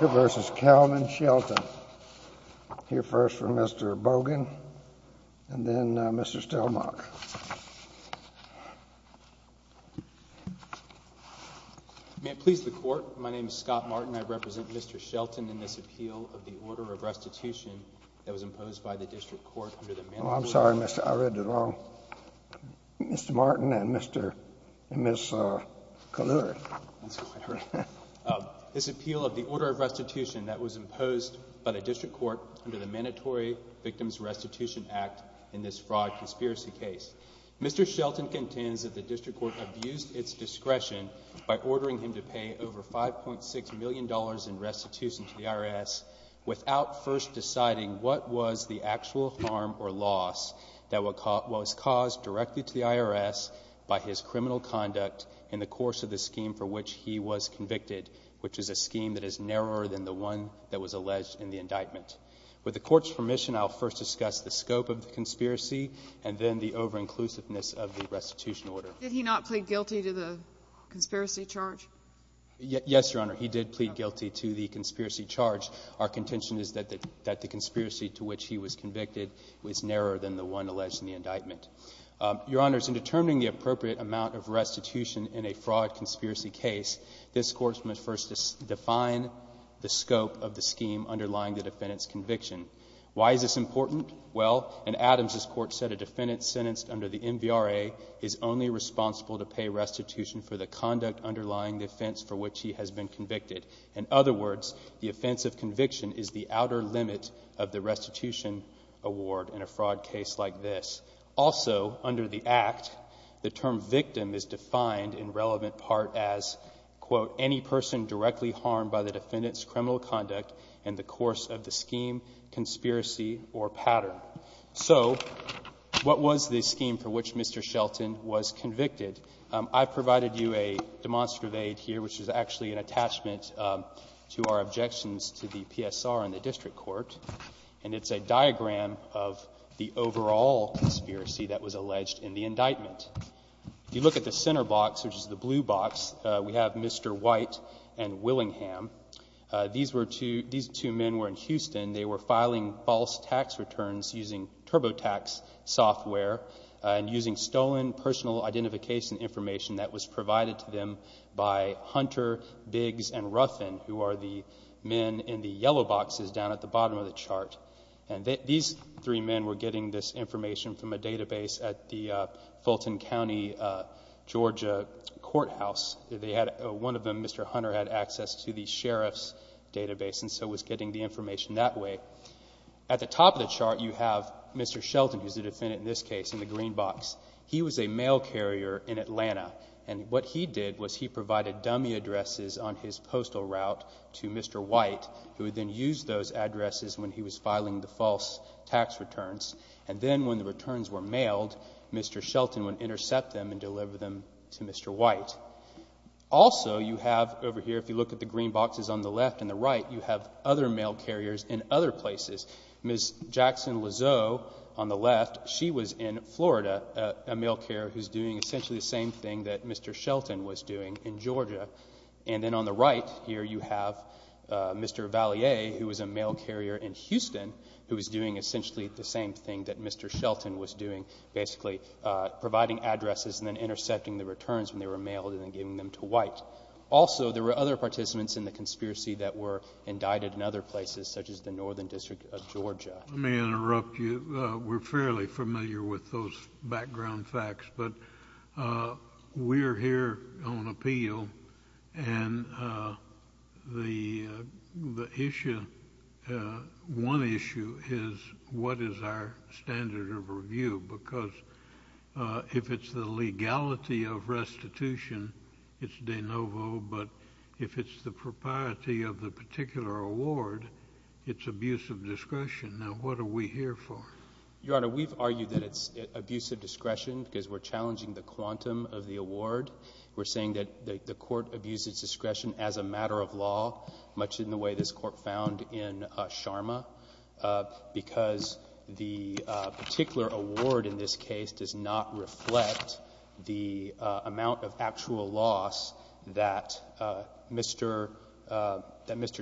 Hear first from Mr. Bogan and then Mr. Stelmach. May it please the Court, my name is Scott Martin. I represent Mr. Shelton in this appeal of the Order of Restitution that was imposed by the District Court under the Manifold Law. I'm sorry, I read it wrong. Mr. Martin and Ms. Kalura. This appeal of the Order of Restitution that was imposed by the District Court under the Mandatory Victims Restitution Act in this fraud conspiracy case. Mr. Shelton contends that the District Court abused its discretion by ordering him to pay over $5.6 million in restitution to the IRS without first deciding what was the actual harm or loss that was caused directly to the IRS by his criminal conduct in the course of the scheme for which he was convicted, which is a scheme that is narrower than the one that was alleged in the indictment. With the Court's permission, I'll first discuss the scope of the conspiracy and then the over-inclusiveness of the restitution order. Did he not plead guilty to the conspiracy charge? Yes, Your Honor, he did plead guilty to the conspiracy charge. Our contention is that the conspiracy to which he was convicted was narrower than the one alleged in the indictment. Your Honors, in determining the appropriate amount of restitution in a fraud conspiracy case, this Court must first define the scope of the scheme underlying the defendant's conviction. Why is this important? Well, in Adams's court, a defendant sentenced under the MVRA is only responsible to pay restitution for the conduct underlying the offense for which he has been convicted. In other words, the offense of conviction is the outer limit of the restitution award in a fraud case like this. Also, under the Act, the term victim is defined in relevant part as, quote, any person directly harmed by the defendant's criminal conduct in the course of the scheme, conspiracy, or pattern. So what was the scheme for which Mr. Shelton was convicted? I've provided you a demonstrative aid here, which is actually an attachment to our objections to the PSR and the district court. And it's a diagram of the overall conspiracy that was alleged in the indictment. If you look at the center box, which is the blue box, we have Mr. White and Willingham. These were two men who were in Houston. They were filing false tax returns using TurboTax software and using stolen personal identification information that was provided to them by Hunter, Biggs, and Ruffin, who are the men in the yellow boxes down at the bottom of the chart. And these three men were getting this information from a database at the Fulton County, Georgia, courthouse. One of them, Mr. Hunter, had access to the sheriff's database and so was getting the information that way. At the top of the chart, you have Mr. Shelton, who's the defendant in this case in the green box. He was a mail carrier in Atlanta, and what he did was he provided dummy addresses on his postal route to Mr. White, who then used those addresses when he was filing the false tax returns. And then when the returns were mailed, Mr. Shelton would intercept them and deliver them to Mr. White. Also, you have over here, if you look at the green boxes on the left and the right, you have other mail carriers in other places. Ms. Jackson Lizot, on the left, she was in Florida, a mail carrier who's doing essentially the same thing that Mr. Shelton was doing in Georgia. And then on the right here, you have Mr. Vallier, who was a mail carrier in Houston, who was doing essentially the same thing that Mr. Shelton was doing, basically providing addresses and then intercepting the returns when they were mailed and then giving them to White. Also, there were other participants in the conspiracy that were indicted in other places, such as the Northern District of Georgia. Let me interrupt you. We're fairly familiar with those background facts, but we're here on appeal. And the issue, one issue, is what is our standard of review? Because if it's the legality of restitution, it's de novo. But if it's the propriety of the particular award, it's abuse of discretion. Now, what are we here for? Your Honor, we've argued that it's abuse of discretion because we're challenging the quantum of the award. We're saying that the Court abused its discretion as a matter of law, much in the way this Court found in Sharma, because the particular award in this case does not reflect the amount of actual loss that Mr.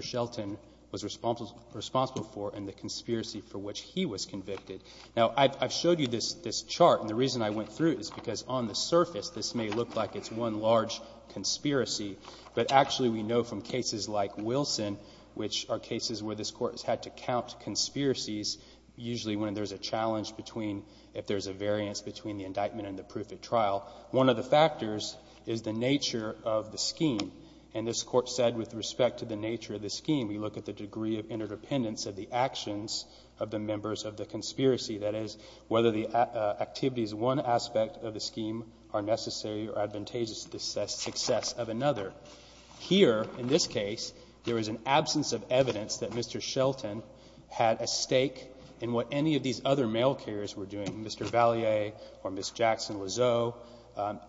Shelton was responsible for and the conspiracy for which he was convicted. Now, I've showed you this chart, and the reason I went through it is because on the surface, this may look like it's one large conspiracy. But actually, we know from cases like Wilson, which are cases where this Court has had to count conspiracies, usually when there's a challenge between, if there's a variance between the indictment and the proof at trial, one of the factors is the nature of the scheme. And this Court said with respect to the nature of the scheme, we look at the degree of interdependence of the actions of the members of the conspiracy, that is, whether the activities of one aspect of the scheme are necessary or advantageous to the success of another. Here, in this case, there is an absence of evidence that Mr. Shelton had a stake in what any of these other male carriers were doing, Mr. Vallier or Ms. Jackson Lizot.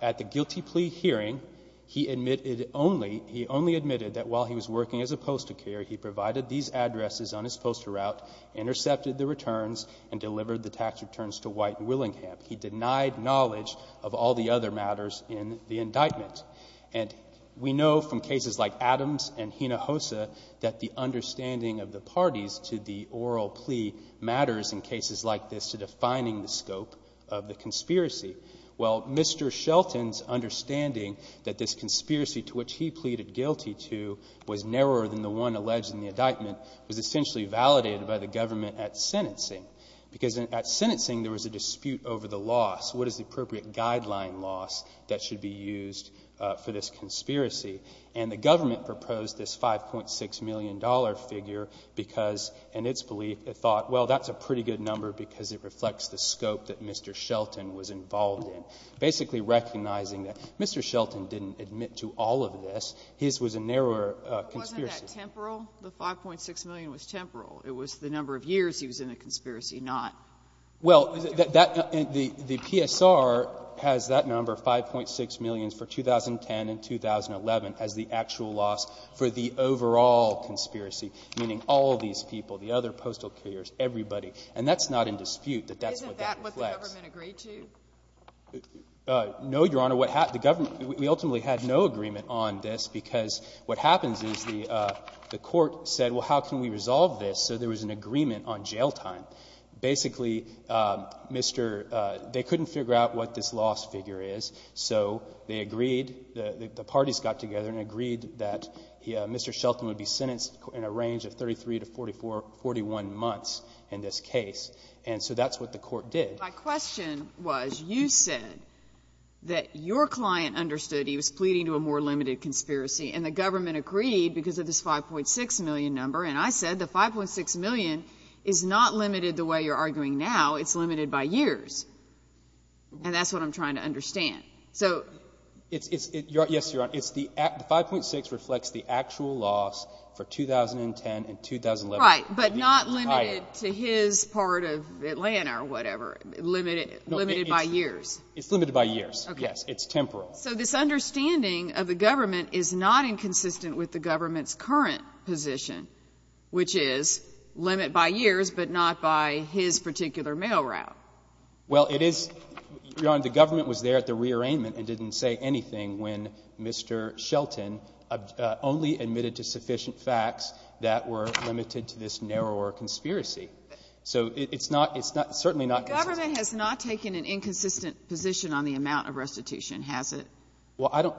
At the guilty plea hearing, he admitted only, he only admitted that while he was working as a postal carrier, he provided these addresses on his postal route, intercepted the returns, and delivered the tax returns to White and Willingham. He denied knowledge of all the other matters in the indictment. And we know from cases like Adams and Hinojosa that the understanding of the parties to the oral plea matters in cases like this to defining the scope of the conspiracy. Well, Mr. Shelton's understanding that this conspiracy to which he pleaded guilty to was narrower than the one alleged in the indictment was essentially validated by the government at sentencing, because at sentencing there was a dispute over the loss. What is the appropriate guideline loss that should be used for this conspiracy? And the government proposed this $5.6 million figure because, in its belief, it thought, well, that's a pretty good number because it reflects the scope that Mr. Shelton was involved in, basically recognizing that Mr. Shelton didn't admit to all of this. His was a narrower conspiracy. Wasn't that temporal? The $5.6 million was temporal. It was the number of years he was in a conspiracy, not the number of years he was in a conspiracy. Well, the PSR has that number, $5.6 million, for 2010 and 2011 as the actual loss for the overall conspiracy, meaning all of these people, the other postal carriers, everybody. And that's not in dispute, that that's what that reflects. Isn't that what the government agreed to? No, Your Honor. What happened, the government, we ultimately had no agreement on this because what happens is the court said, well, how can we resolve this? So there was an agreement on jail time. Basically, Mr. — they couldn't figure out what this loss figure is, so they agreed, the parties got together and agreed that Mr. Shelton would be sentenced in a range of 33 to 41 months in this case. And so that's what the court did. My question was, you said that your client understood he was pleading to a more limited conspiracy, and the government agreed because of this $5.6 million number. And I said the $5.6 million is not limited the way you're arguing now. It's limited by years. And that's what I'm trying to understand. Yes, Your Honor. The $5.6 million reflects the actual loss for 2010 and 2011. Right, but not limited to his part of Atlanta or whatever. Limited by years. It's limited by years, yes. It's temporal. So this understanding of the government is not inconsistent with the government's current position, which is limit by years, but not by his particular mail route. Well, it is, Your Honor, the government was there at the rearrangement and didn't say anything when Mr. Shelton only admitted to sufficient facts that were limited to this narrower conspiracy. So it's not, it's not, certainly not. The government has not taken an inconsistent position on the amount of restitution, has it? Well, I don't,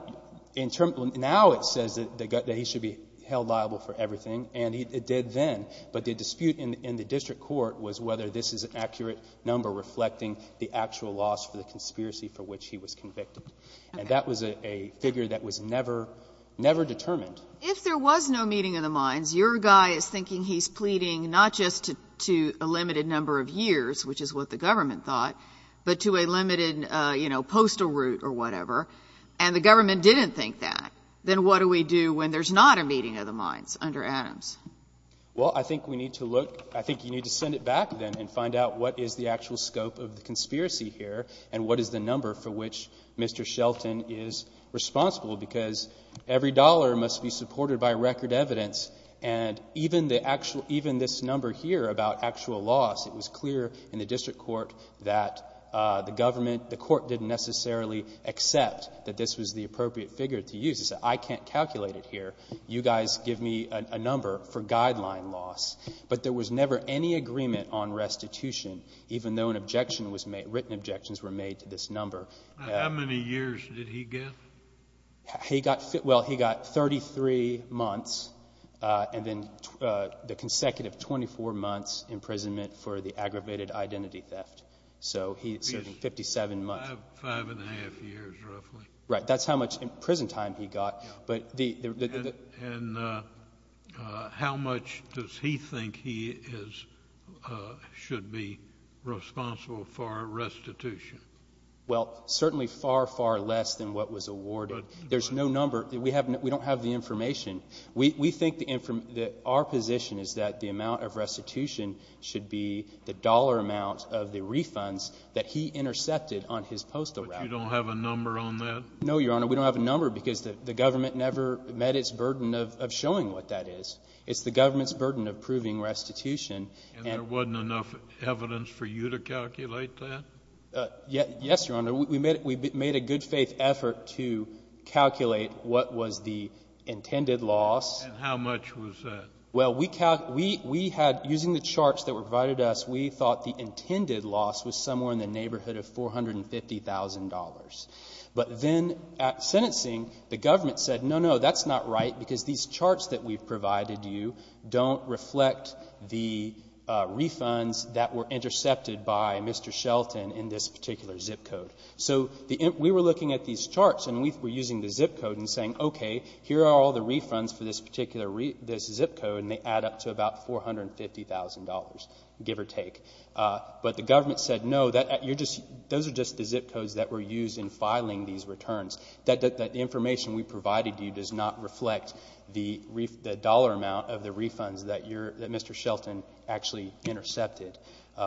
in terms, now it says that he should be held liable for everything, and it did then. But the dispute in the district court was whether this is an accurate number reflecting the actual loss for the conspiracy for which he was convicted. And that was a figure that was never, never determined. If there was no meeting of the minds, your guy is thinking he's pleading not just to a limited number of years, which is what the government thought, but to a limited, you know, postal route or whatever, and the government didn't think that, then what do we do when there's not a meeting of the minds under Adams? Well, I think we need to look, I think you need to send it back, then, and find out what is the actual scope of the conspiracy here, and what is the number for which Mr. Shelton is responsible, because every dollar must be supported by record evidence. And even the actual, even this number here about actual loss, it was clear in the district court that the government, the court didn't necessarily accept that this was the appropriate figure to use. It said I can't calculate it here. You guys give me a number for guideline loss. But there was never any agreement on restitution, even though an objection was made, written objections were made to this number. How many years did he get? He got, well, he got 33 months, and then the consecutive 24 months imprisonment for the aggravated identity theft. So he served 57 months. Five and a half years, roughly. Right. That's how much prison time he got. And how much does he think he should be responsible for restitution? Well, certainly far, far less than what was awarded. There's no number. We don't have the information. We think that our position is that the amount of restitution should be the dollar amount of the refunds that he intercepted on his postal route. But you don't have a number on that? No, Your Honor. We don't have a number because the government never met its burden of showing what that is. It's the government's burden of proving restitution. And there wasn't enough evidence for you to calculate that? Yes, Your Honor. We made a good faith effort to calculate what was the intended loss. And how much was that? Well, we had, using the charts that were provided to us, we thought the intended loss was somewhere in the neighborhood of $450,000. But then at sentencing, the government said, no, no, that's not right, because these charts that we've provided you don't reflect the refunds that were intercepted by Mr. Shelton in this particular zip code. So we were looking at these charts, and we were using the zip code and saying, okay, here are all the refunds for this particular zip code, and they add up to about $450,000, give or take. But the government said, no, those are just the zip codes that were used in filing these returns. The information we provided you does not reflect the dollar amount of the refunds that Mr. Shelton actually intercepted.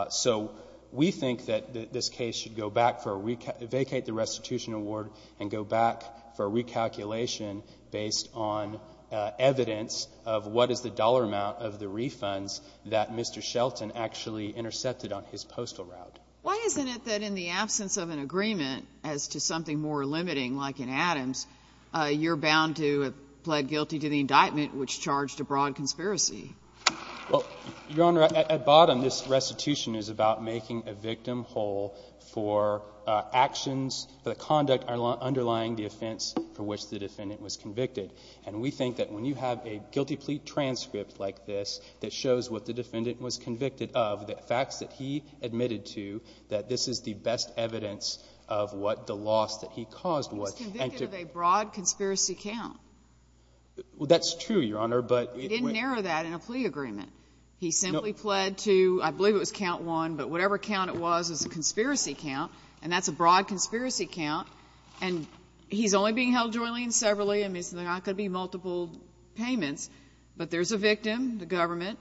So we think that this case should vacate the restitution award and go back for recalculation based on evidence of what is the dollar amount of the refunds that Mr. Shelton actually intercepted on his postal route. Why isn't it that in the absence of an agreement as to something more limiting, like in Adams, you're bound to have pled guilty to the indictment, which charged a broad conspiracy? Well, Your Honor, at bottom, this restitution is about making a victim whole for actions, for the conduct underlying the offense for which the defendant was convicted. And we think that when you have a guilty plea transcript like this that shows what the defendant was convicted of, the facts that he admitted to, that this is the best evidence of what the loss that he caused was. He was convicted of a broad conspiracy count. Well, that's true, Your Honor, but it was not. He didn't narrow that in a plea agreement. He simply pled to, I believe it was count one, but whatever count it was, it was a conspiracy count, and that's a broad conspiracy count, and he's only being held jointly and severally, and there's not going to be multiple payments. But there's a victim, the government,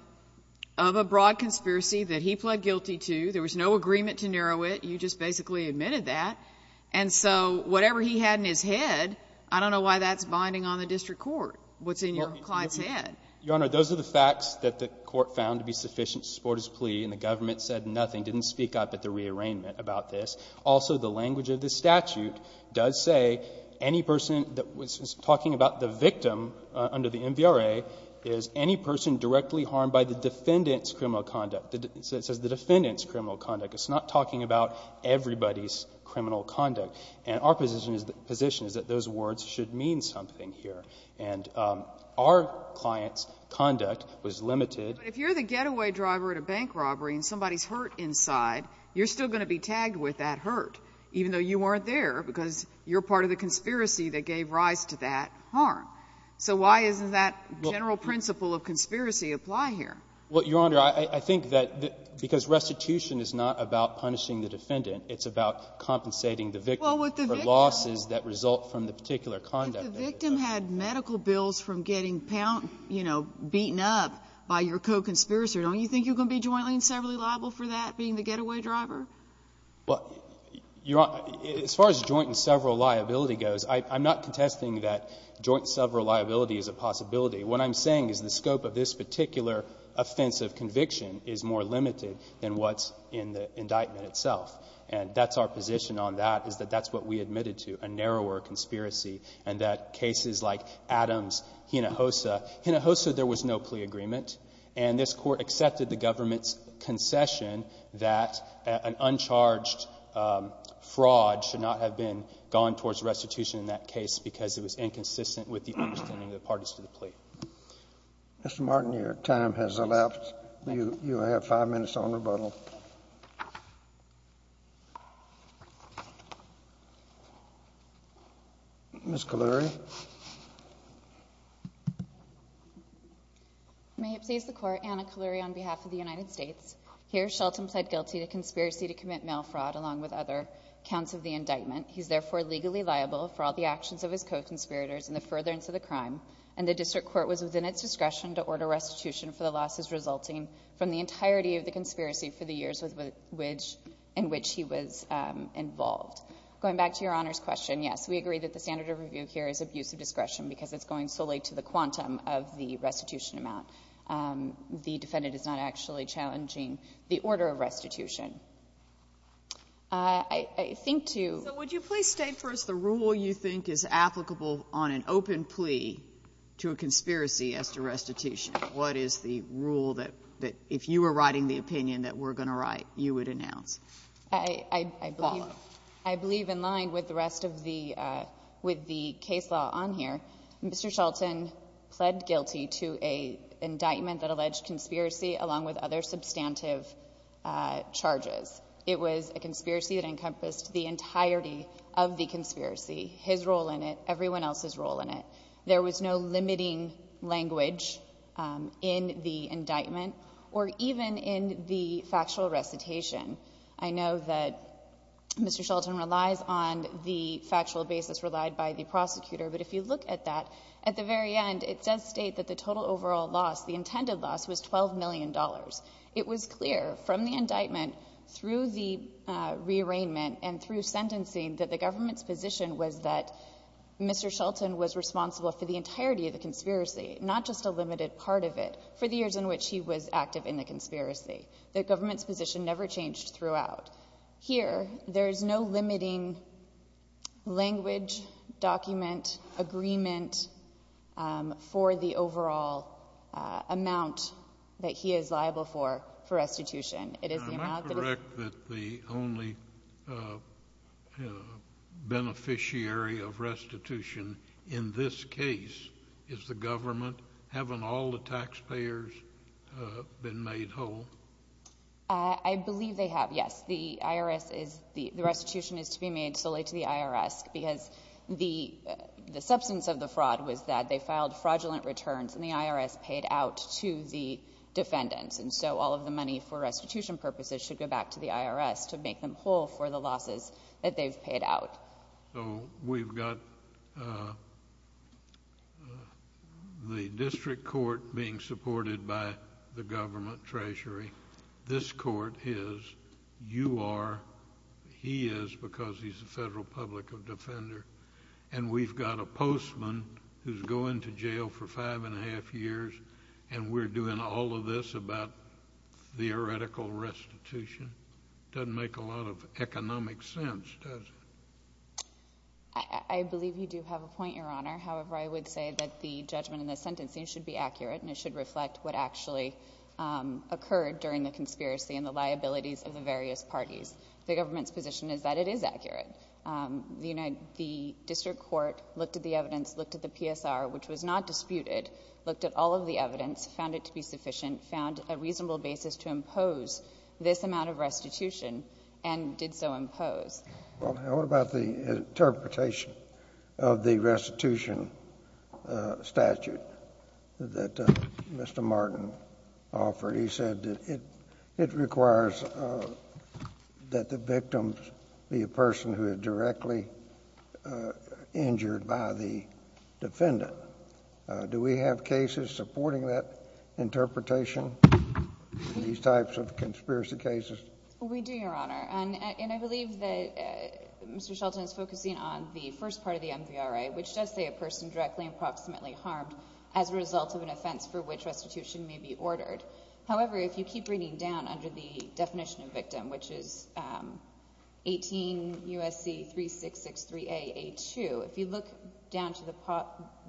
of a broad conspiracy that he pled guilty to. There was no agreement to narrow it. You just basically admitted that. And so whatever he had in his head, I don't know why that's binding on the district court, what's in your client's head. Well, Your Honor, those are the facts that the Court found to be sufficient to support his plea, and the government said nothing, didn't speak up at the rearrangement about this. Also, the language of the statute does say any person that was talking about the victim under the MVRA is any person directly harmed by the defendant's criminal conduct. It says the defendant's criminal conduct. It's not talking about everybody's criminal conduct. And our position is that those words should mean something here. And our client's conduct was limited. But if you're the getaway driver at a bank robbery and somebody's hurt inside, you're still going to be tagged with that hurt, even though you weren't there because you're part of the conspiracy that gave rise to that harm. So why doesn't that general principle of conspiracy apply here? Well, Your Honor, I think that because restitution is not about punishing the defendant, it's about compensating the victim for losses that result from the particular conduct. But the victim had medical bills from getting, you know, beaten up by your co-conspirator. Don't you think you're going to be jointly and severally liable for that, being the getaway driver? Well, Your Honor, as far as joint and several liability goes, I'm not contesting that joint and several liability is a possibility. What I'm saying is the scope of this particular offensive conviction is more limited than what's in the indictment itself. And that's our position on that, is that that's what we admitted to, a narrower conspiracy, and that cases like Adams, Hinojosa. Hinojosa, there was no plea agreement. And this Court accepted the government's concession that an uncharged fraud should not have been gone towards restitution in that case because it was inconsistent with the understanding of the parties to the plea. Mr. Martin, your time has elapsed. You have five minutes on rebuttal. Ms. Kaleri. May it please the Court, Anna Kaleri on behalf of the United States. Here, Shelton pled guilty to conspiracy to commit mail fraud along with other counts of the indictment. He is therefore legally liable for all the actions of his co-conspirators in the furtherance of the crime, and the District Court was within its discretion to order restitution for the losses resulting from the entirety of the conspiracy for the years in which he was involved. Going back to Your Honor's question, yes, we agree that the standard of review here is abuse of discretion because it's going solely to the quantum of the restitution amount. The defendant is not actually challenging the order of restitution. I think to you So would you please state first the rule you think is applicable on an open plea to a conspiracy as to restitution? What is the rule that if you were writing the opinion that we're going to write, you would announce? I believe in line with the rest of the, with the case law on here, Mr. Shelton pled guilty to an indictment that alleged conspiracy along with other substantive charges. It was a conspiracy that encompassed the entirety of the conspiracy, his role in it, everyone else's role in it. There was no limiting language in the indictment, or even in the factual recitation I know that Mr. Shelton relies on the factual basis relied by the prosecutor. But if you look at that, at the very end, it does state that the total overall loss, the intended loss, was $12 million. It was clear from the indictment through the rearrangement and through sentencing that the government's position was that Mr. Shelton was responsible for the entirety of the conspiracy, not just a limited part of it, for the years in which he was active in the conspiracy. The government's position never changed throughout. Here, there is no limiting language, document, agreement for the overall amount that he is liable for, for restitution. It is the amount that is— Am I correct that the only beneficiary of restitution in this case is the government, having all the taxpayers been made whole? I believe they have, yes. The IRS is—the restitution is to be made solely to the IRS because the substance of the fraud was that they filed fraudulent returns and the IRS paid out to the defendants. And so all of the money for restitution purposes should go back to the IRS to make them whole for the losses that they've paid out. So we've got the district court being supported by the government treasury. This court is. You are. He is because he's the federal public defender. And we've got a postman who's going to jail for five and a half years and we're doing all of this about theoretical restitution. It doesn't make a lot of economic sense, does it? I believe you do have a point, Your Honor. However, I would say that the judgment in this sentencing should be accurate and it should reflect what actually occurred during the conspiracy and the liabilities of the various parties. The government's position is that it is accurate. The district court looked at the evidence, looked at the PSR, which was not disputed, looked at all of the evidence, found it to be sufficient, found a reasonable basis to restitution and did so impose. What about the interpretation of the restitution statute that Mr. Martin offered? He said that it requires that the victim be a person who is directly injured by the defendant. Do we have cases supporting that interpretation in these types of conspiracy cases? We do, Your Honor. And I believe that Mr. Shelton is focusing on the first part of the MVRA, which does say a person directly and proximately harmed as a result of an offense for which restitution may be ordered. However, if you keep reading down under the definition of victim, which is 18 U.S.C. 3663A.A.2, if you look down to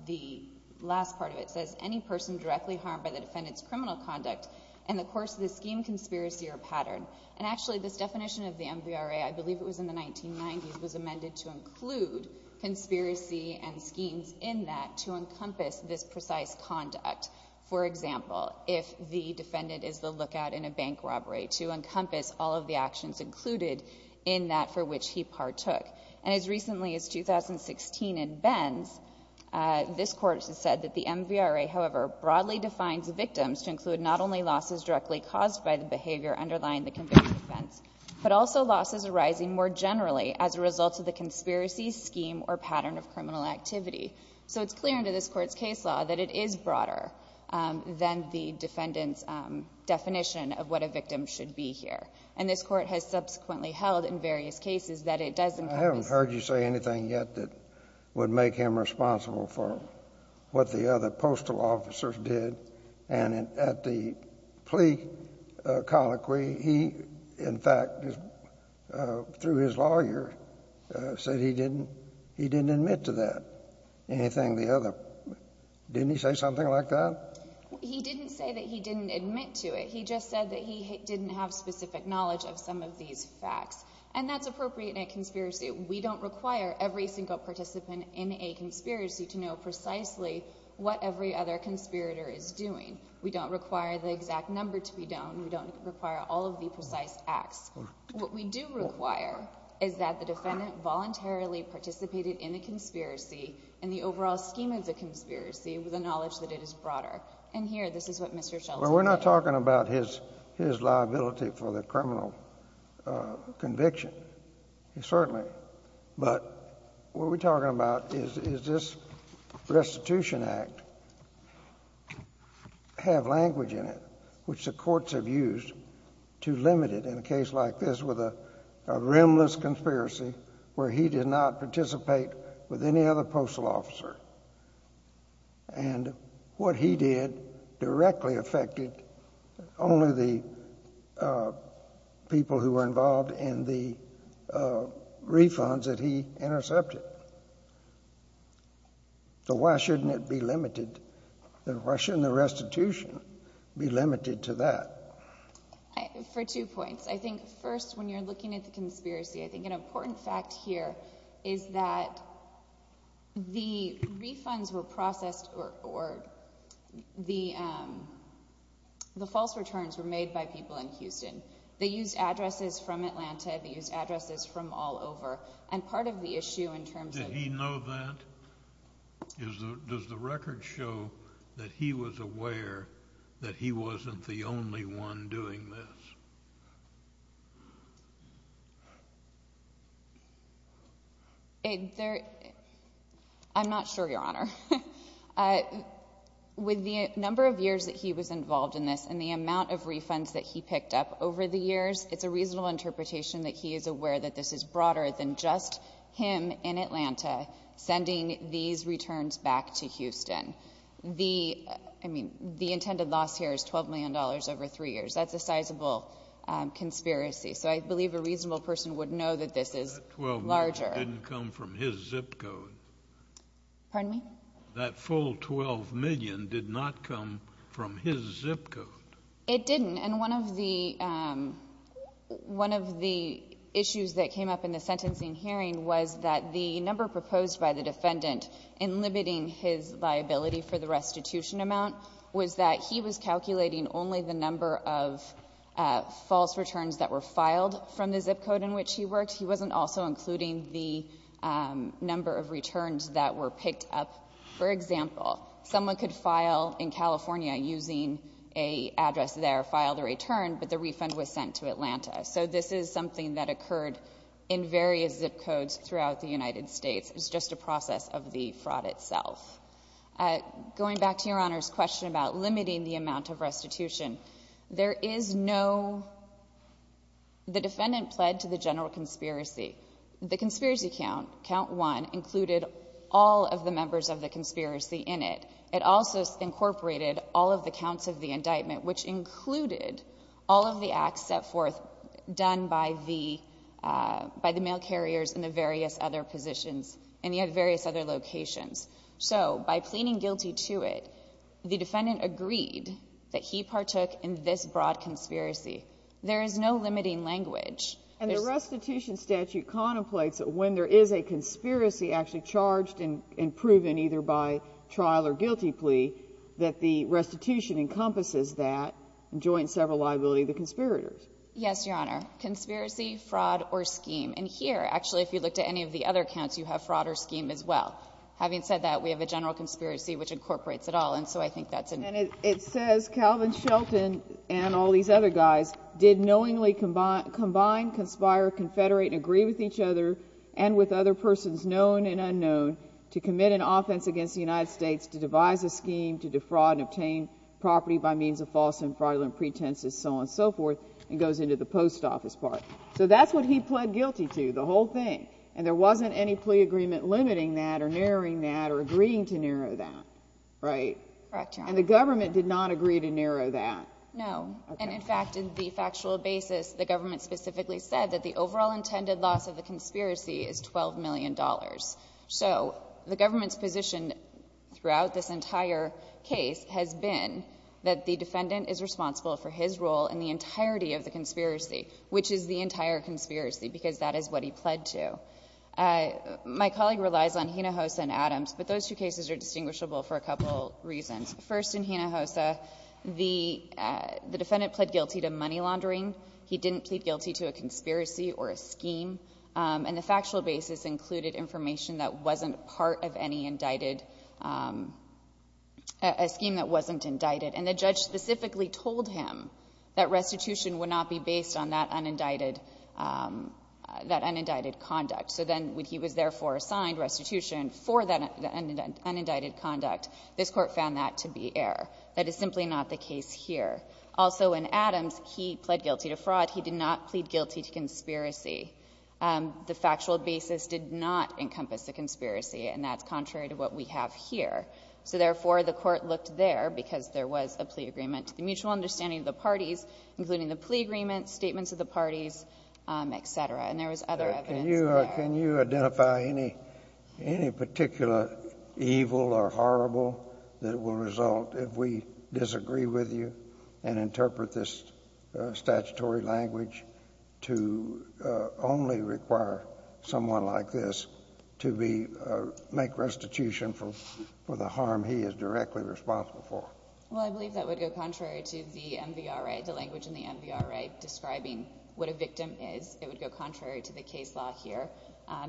the last part of it, it says any person directly harmed by the defendant's criminal conduct in the course of the scheme, conspiracy, or pattern. And actually, this definition of the MVRA, I believe it was in the 1990s, was amended to include conspiracy and schemes in that to encompass this precise conduct. For example, if the defendant is the lookout in a bank robbery, to encompass all of the actions included in that for which he partook. And as recently as 2016 in Ben's, this Court has said that the MVRA, however, broadly defines victims to include not only losses directly caused by the behavior underlying the convicted offense, but also losses arising more generally as a result of the conspiracy, scheme, or pattern of criminal activity. So it's clear under this Court's case law that it is broader than the defendant's definition of what a victim should be here. And this Court has subsequently held in various cases that it does encompass Scalia. I haven't heard you say anything yet that would make him responsible for what the other postal officers did. And at the plea colloquy, he, in fact, through his lawyer, said he didn't admit to that, anything the other. Didn't he say something like that? He didn't say that he didn't admit to it. He just said that he didn't have specific knowledge of some of these facts. And that's appropriate in a conspiracy. We don't require every single participant in a conspiracy to know precisely what every other conspirator is doing. We don't require the exact number to be known. We don't require all of the precise acts. What we do require is that the defendant voluntarily participated in the conspiracy in the overall scheme of the conspiracy with the knowledge that it is broader. And here, this is what Mr. Schultz said. We're not talking about his liability for the criminal conviction, certainly. But what we're talking about is this restitution act have language in it, which the courts have used to limit it in a case like this with a rimless conspiracy where he did not participate with any other postal officer. And what he did directly affected only the people who were involved in the refunds that he intercepted. So why shouldn't it be limited? Why shouldn't the restitution be limited to that? For two points. I think, first, when you're looking at the conspiracy, I think an important fact here is that the refunds were processed or the false returns were made by people in Houston. They used addresses from Atlanta. They used addresses from all over. And part of the issue in terms of Did he know that? Does the record show that he was aware that he wasn't the only one doing this? I'm not sure, Your Honor. With the number of years that he was involved in this and the amount of refunds that he picked up over the years, it's a reasonable interpretation that he is aware that this is broader than just him in Atlanta sending these returns back to Houston. I mean, the intended loss here is $12 million over three years. That's a sizable conspiracy. So I believe a reasonable person would know that this is larger. But that $12 million didn't come from his zip code. Pardon me? That full $12 million did not come from his zip code. It didn't. And one of the issues that came up in the sentencing hearing was that the number proposed by the defendant in limiting his liability for the restitution amount was that he was calculating only the number of false returns that were filed from the zip code in which he worked. He wasn't also including the number of returns that were picked up. For example, someone could file in California using an address there, file their return, but the refund was sent to Atlanta. So this is something that occurred in various zip codes throughout the United States. It's just a process of the fraud itself. Going back to Your Honor's question about limiting the amount of restitution, there is no the defendant pled to the general conspiracy. The conspiracy count, count one, included all of the members of the conspiracy in it. It also incorporated all of the counts of the indictment, which included all of the acts set forth done by the mail carriers and the various other positions and the various other locations. So by pleading guilty to it, the defendant agreed that he partook in this broad conspiracy. There is no limiting language. And the restitution statute contemplates that when there is a conspiracy actually charged and proven either by trial or guilty plea, that the restitution encompasses that and joins several liability of the conspirators. Yes, Your Honor. Conspiracy, fraud, or scheme. And here, actually, if you looked at any of the other counts, you have fraud or scheme as well. Having said that, we have a general conspiracy, which incorporates it all. And so I think that's important. And it says Calvin Shelton and all these other guys did knowingly combine, conspire, confederate, and agree with each other and with other persons, known and unknown, to commit an offense against the United States to devise a scheme to defraud and obtain property by means of false and fraudulent pretenses, so on and so forth, and goes into the post office part. So that's what he pled guilty to, the whole thing. And there wasn't any plea agreement limiting that or narrowing that or agreeing to narrow that, right? Correct, Your Honor. And the government did not agree to narrow that. No. And, in fact, in the factual basis, the government specifically said that the overall intended loss of the conspiracy is $12 million. So the government's position throughout this entire case has been that the defendant is responsible for his role in the entirety of the conspiracy, which is the entire conspiracy, because that is what he pled to. My colleague relies on Hinojosa and Adams, but those two cases are distinguishable for a couple reasons. First, in Hinojosa, the defendant pled guilty to money laundering. He didn't plead guilty to a conspiracy or a scheme. And the factual basis included information that wasn't part of any indicted — a scheme that wasn't indicted. And the judge specifically told him that restitution would not be based on that unindicted — that unindicted conduct. So then when he was, therefore, assigned restitution for that unindicted conduct, this Court found that to be error. That is simply not the case here. Also, in Adams, he pled guilty to fraud. He did not plead guilty to conspiracy. The factual basis did not encompass the conspiracy, and that's contrary to what we have here. So, therefore, the Court looked there because there was a plea agreement to the mutual understanding of the parties, including the plea agreement, statements of the parties, et cetera. And there was other evidence there. Kennedy. Can you identify any particular evil or horrible that will result if we disagree with you and interpret this statutory language to only require someone like this to be — make restitution for the harm he is directly responsible for? Well, I believe that would go contrary to the MVRA, the language in the MVRA describing what a victim is. It would go contrary to the case law here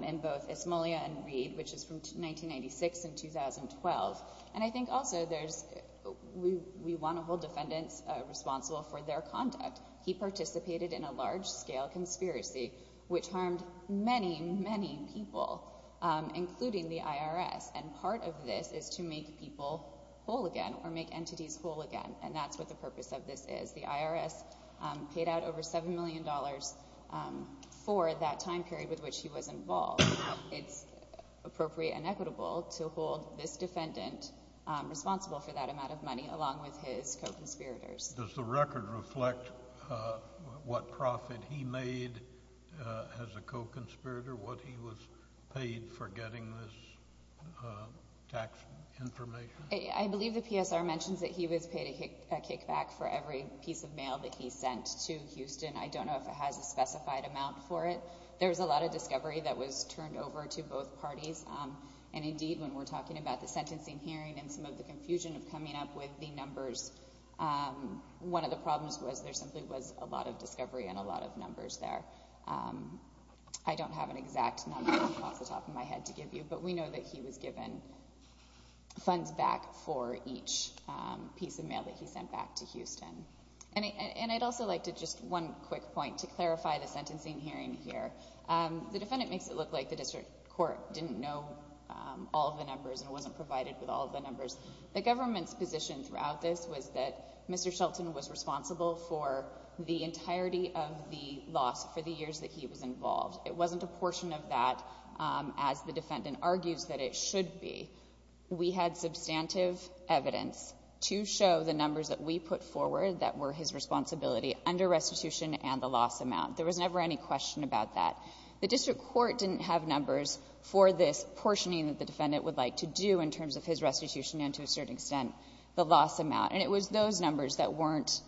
in both Esmolia and Reed, which is from 1996 and 2012. And I think also there's — we want to hold defendants responsible for their conduct. He participated in a large-scale conspiracy, which harmed many, many people, including the IRS. And part of this is to make people whole again or make entities whole again. And that's what the purpose of this is. The IRS paid out over $7 million for that time period with which he was involved. It's appropriate and equitable to hold this defendant responsible for that amount of money, along with his co-conspirators. Does the record reflect what profit he made as a co-conspirator, what he was paid for getting this tax information? I believe the PSR mentions that he was paid a kickback for every piece of mail that he sent to Houston. I don't know if it has a specified amount for it. There was a lot of discovery that was turned over to both parties. And indeed, when we're talking about the sentencing hearing and some of the confusion of coming up with the numbers, one of the problems was there simply was a lot of discovery and a lot of numbers there. I don't have an exact number off the top of my head to give you, but we know that he was given funds back for each piece of mail that he sent back to Houston. And I'd also like to just one quick point to clarify the sentencing hearing here. The defendant makes it look like the district court didn't know all of the numbers and wasn't provided with all of the numbers. The government's position throughout this was that Mr. Shelton was responsible for the entirety of the loss for the years that he was involved. It wasn't a portion of that, as the defendant argues that it should be. We had substantive evidence to show the numbers that we put forward that were his responsibility under restitution and the loss amount. There was never any question about that. The district court didn't have numbers for this portioning that the defendant would like to do in terms of his restitution and, to a certain extent, the loss amount. And it was those numbers that weren't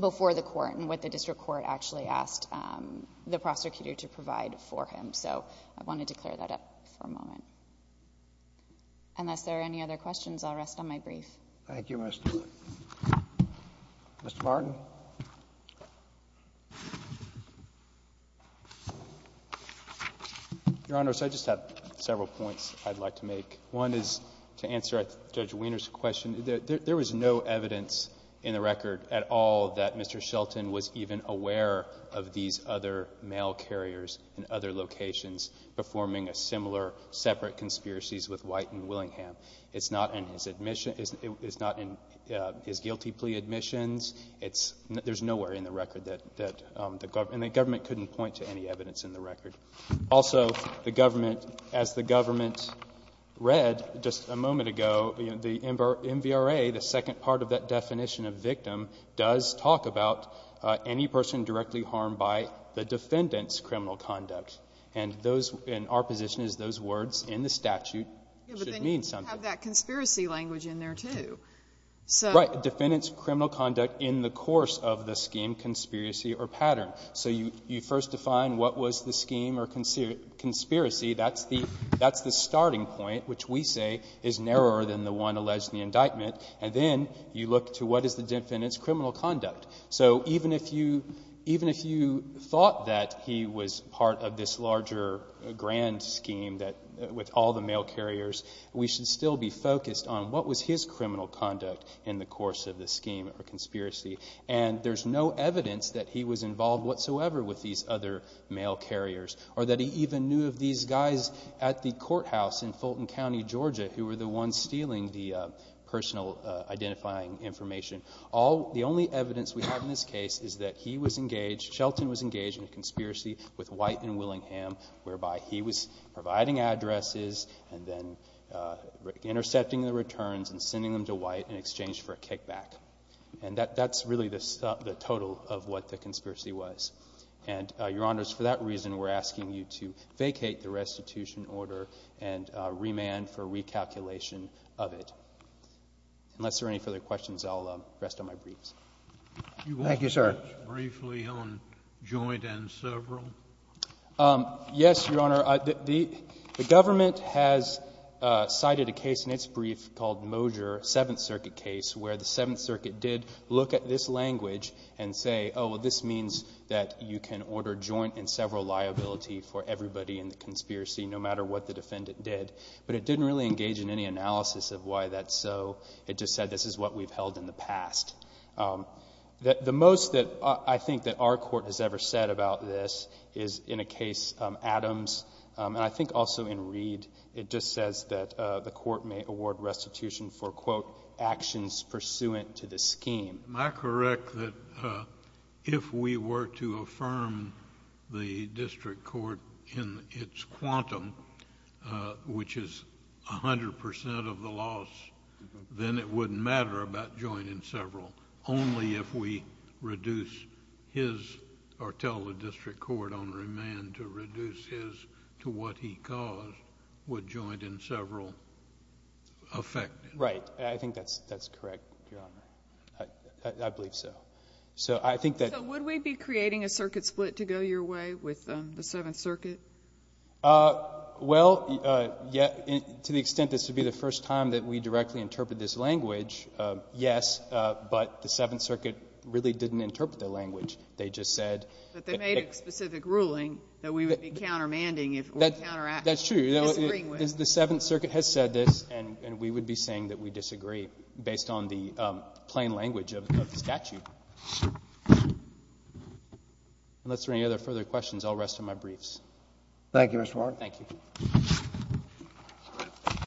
before the court and what the district court actually asked the prosecutor to provide for him. So I wanted to clear that up for a moment. Unless there are any other questions, I'll rest on my brief. Thank you, Ms. DeWitt. Mr. Martin. Your Honor, I just have several points I'd like to make. One is to answer Judge Weiner's question. There was no evidence in the record at all that Mr. Shelton was even aware of these other mail carriers in other locations performing a similar separate conspiracy with White and Willingham. It's not in his guilty plea admissions. It's not. There's nowhere in the record that the government couldn't point to any evidence in the record. Also, the government, as the government read just a moment ago, the MVRA, the second part of that definition of victim, does talk about any person directly harmed by the defendant's criminal conduct. And those, in our position, is those words in the statute should mean something. But then you have that conspiracy language in there, too. Right. What was the defendant's criminal conduct in the course of the scheme, conspiracy or pattern? So you first define what was the scheme or conspiracy. That's the starting point, which we say is narrower than the one alleged in the indictment. And then you look to what is the defendant's criminal conduct. So even if you thought that he was part of this larger grand scheme with all the mail carriers, or that he even knew of these guys at the courthouse in Fulton County, Georgia, who were the ones stealing the personal identifying information, all, the only evidence we have in this case is that he was engaged, Shelton was engaged in a conspiracy with White and Willingham, whereby he was providing addresses and then intercepting the returns and sending them to White in exchange for a kickback. And that's really the total of what the conspiracy was. And, Your Honors, for that reason, we're asking you to vacate the restitution order and remand for recalculation of it. Unless there are any further questions, I'll rest on my briefs. Thank you, sir. You want to touch briefly on joint and several? Yes, Your Honor. The government has cited a case in its brief called Mosier, Seventh Circuit case, where the Seventh Circuit did look at this language and say, oh, well, this means that you can order joint and several liability for everybody in the conspiracy, no matter what the defendant did. But it didn't really engage in any analysis of why that's so. It just said this is what we've held in the past. The most that I think that our court has ever said about this is in a case, Adams, and I think also in Reed, it just says that the court may award restitution for, quote, actions pursuant to the scheme. Am I correct that if we were to affirm the district court in its quantum, which is 100% of the loss, then it wouldn't matter about joint and several? Only if we reduce his or tell the district court on remand to reduce his to what he caused would joint and several affect it? Right. I think that's correct, Your Honor. I believe so. So I think that... So would we be creating a circuit split to go your way with the Seventh Circuit? Well, to the extent this would be the first time that we directly interpret this language, yes, but the Seventh Circuit really didn't interpret the language. They just said... But they made a specific ruling that we would be countermanding if we were to counteract. That's true. The Seventh Circuit has said this, and we would be saying that we disagree based on the plain language of the statute. Unless there are any other further questions, I'll rest on my briefs. Thank you, Mr. Warren. Thank you.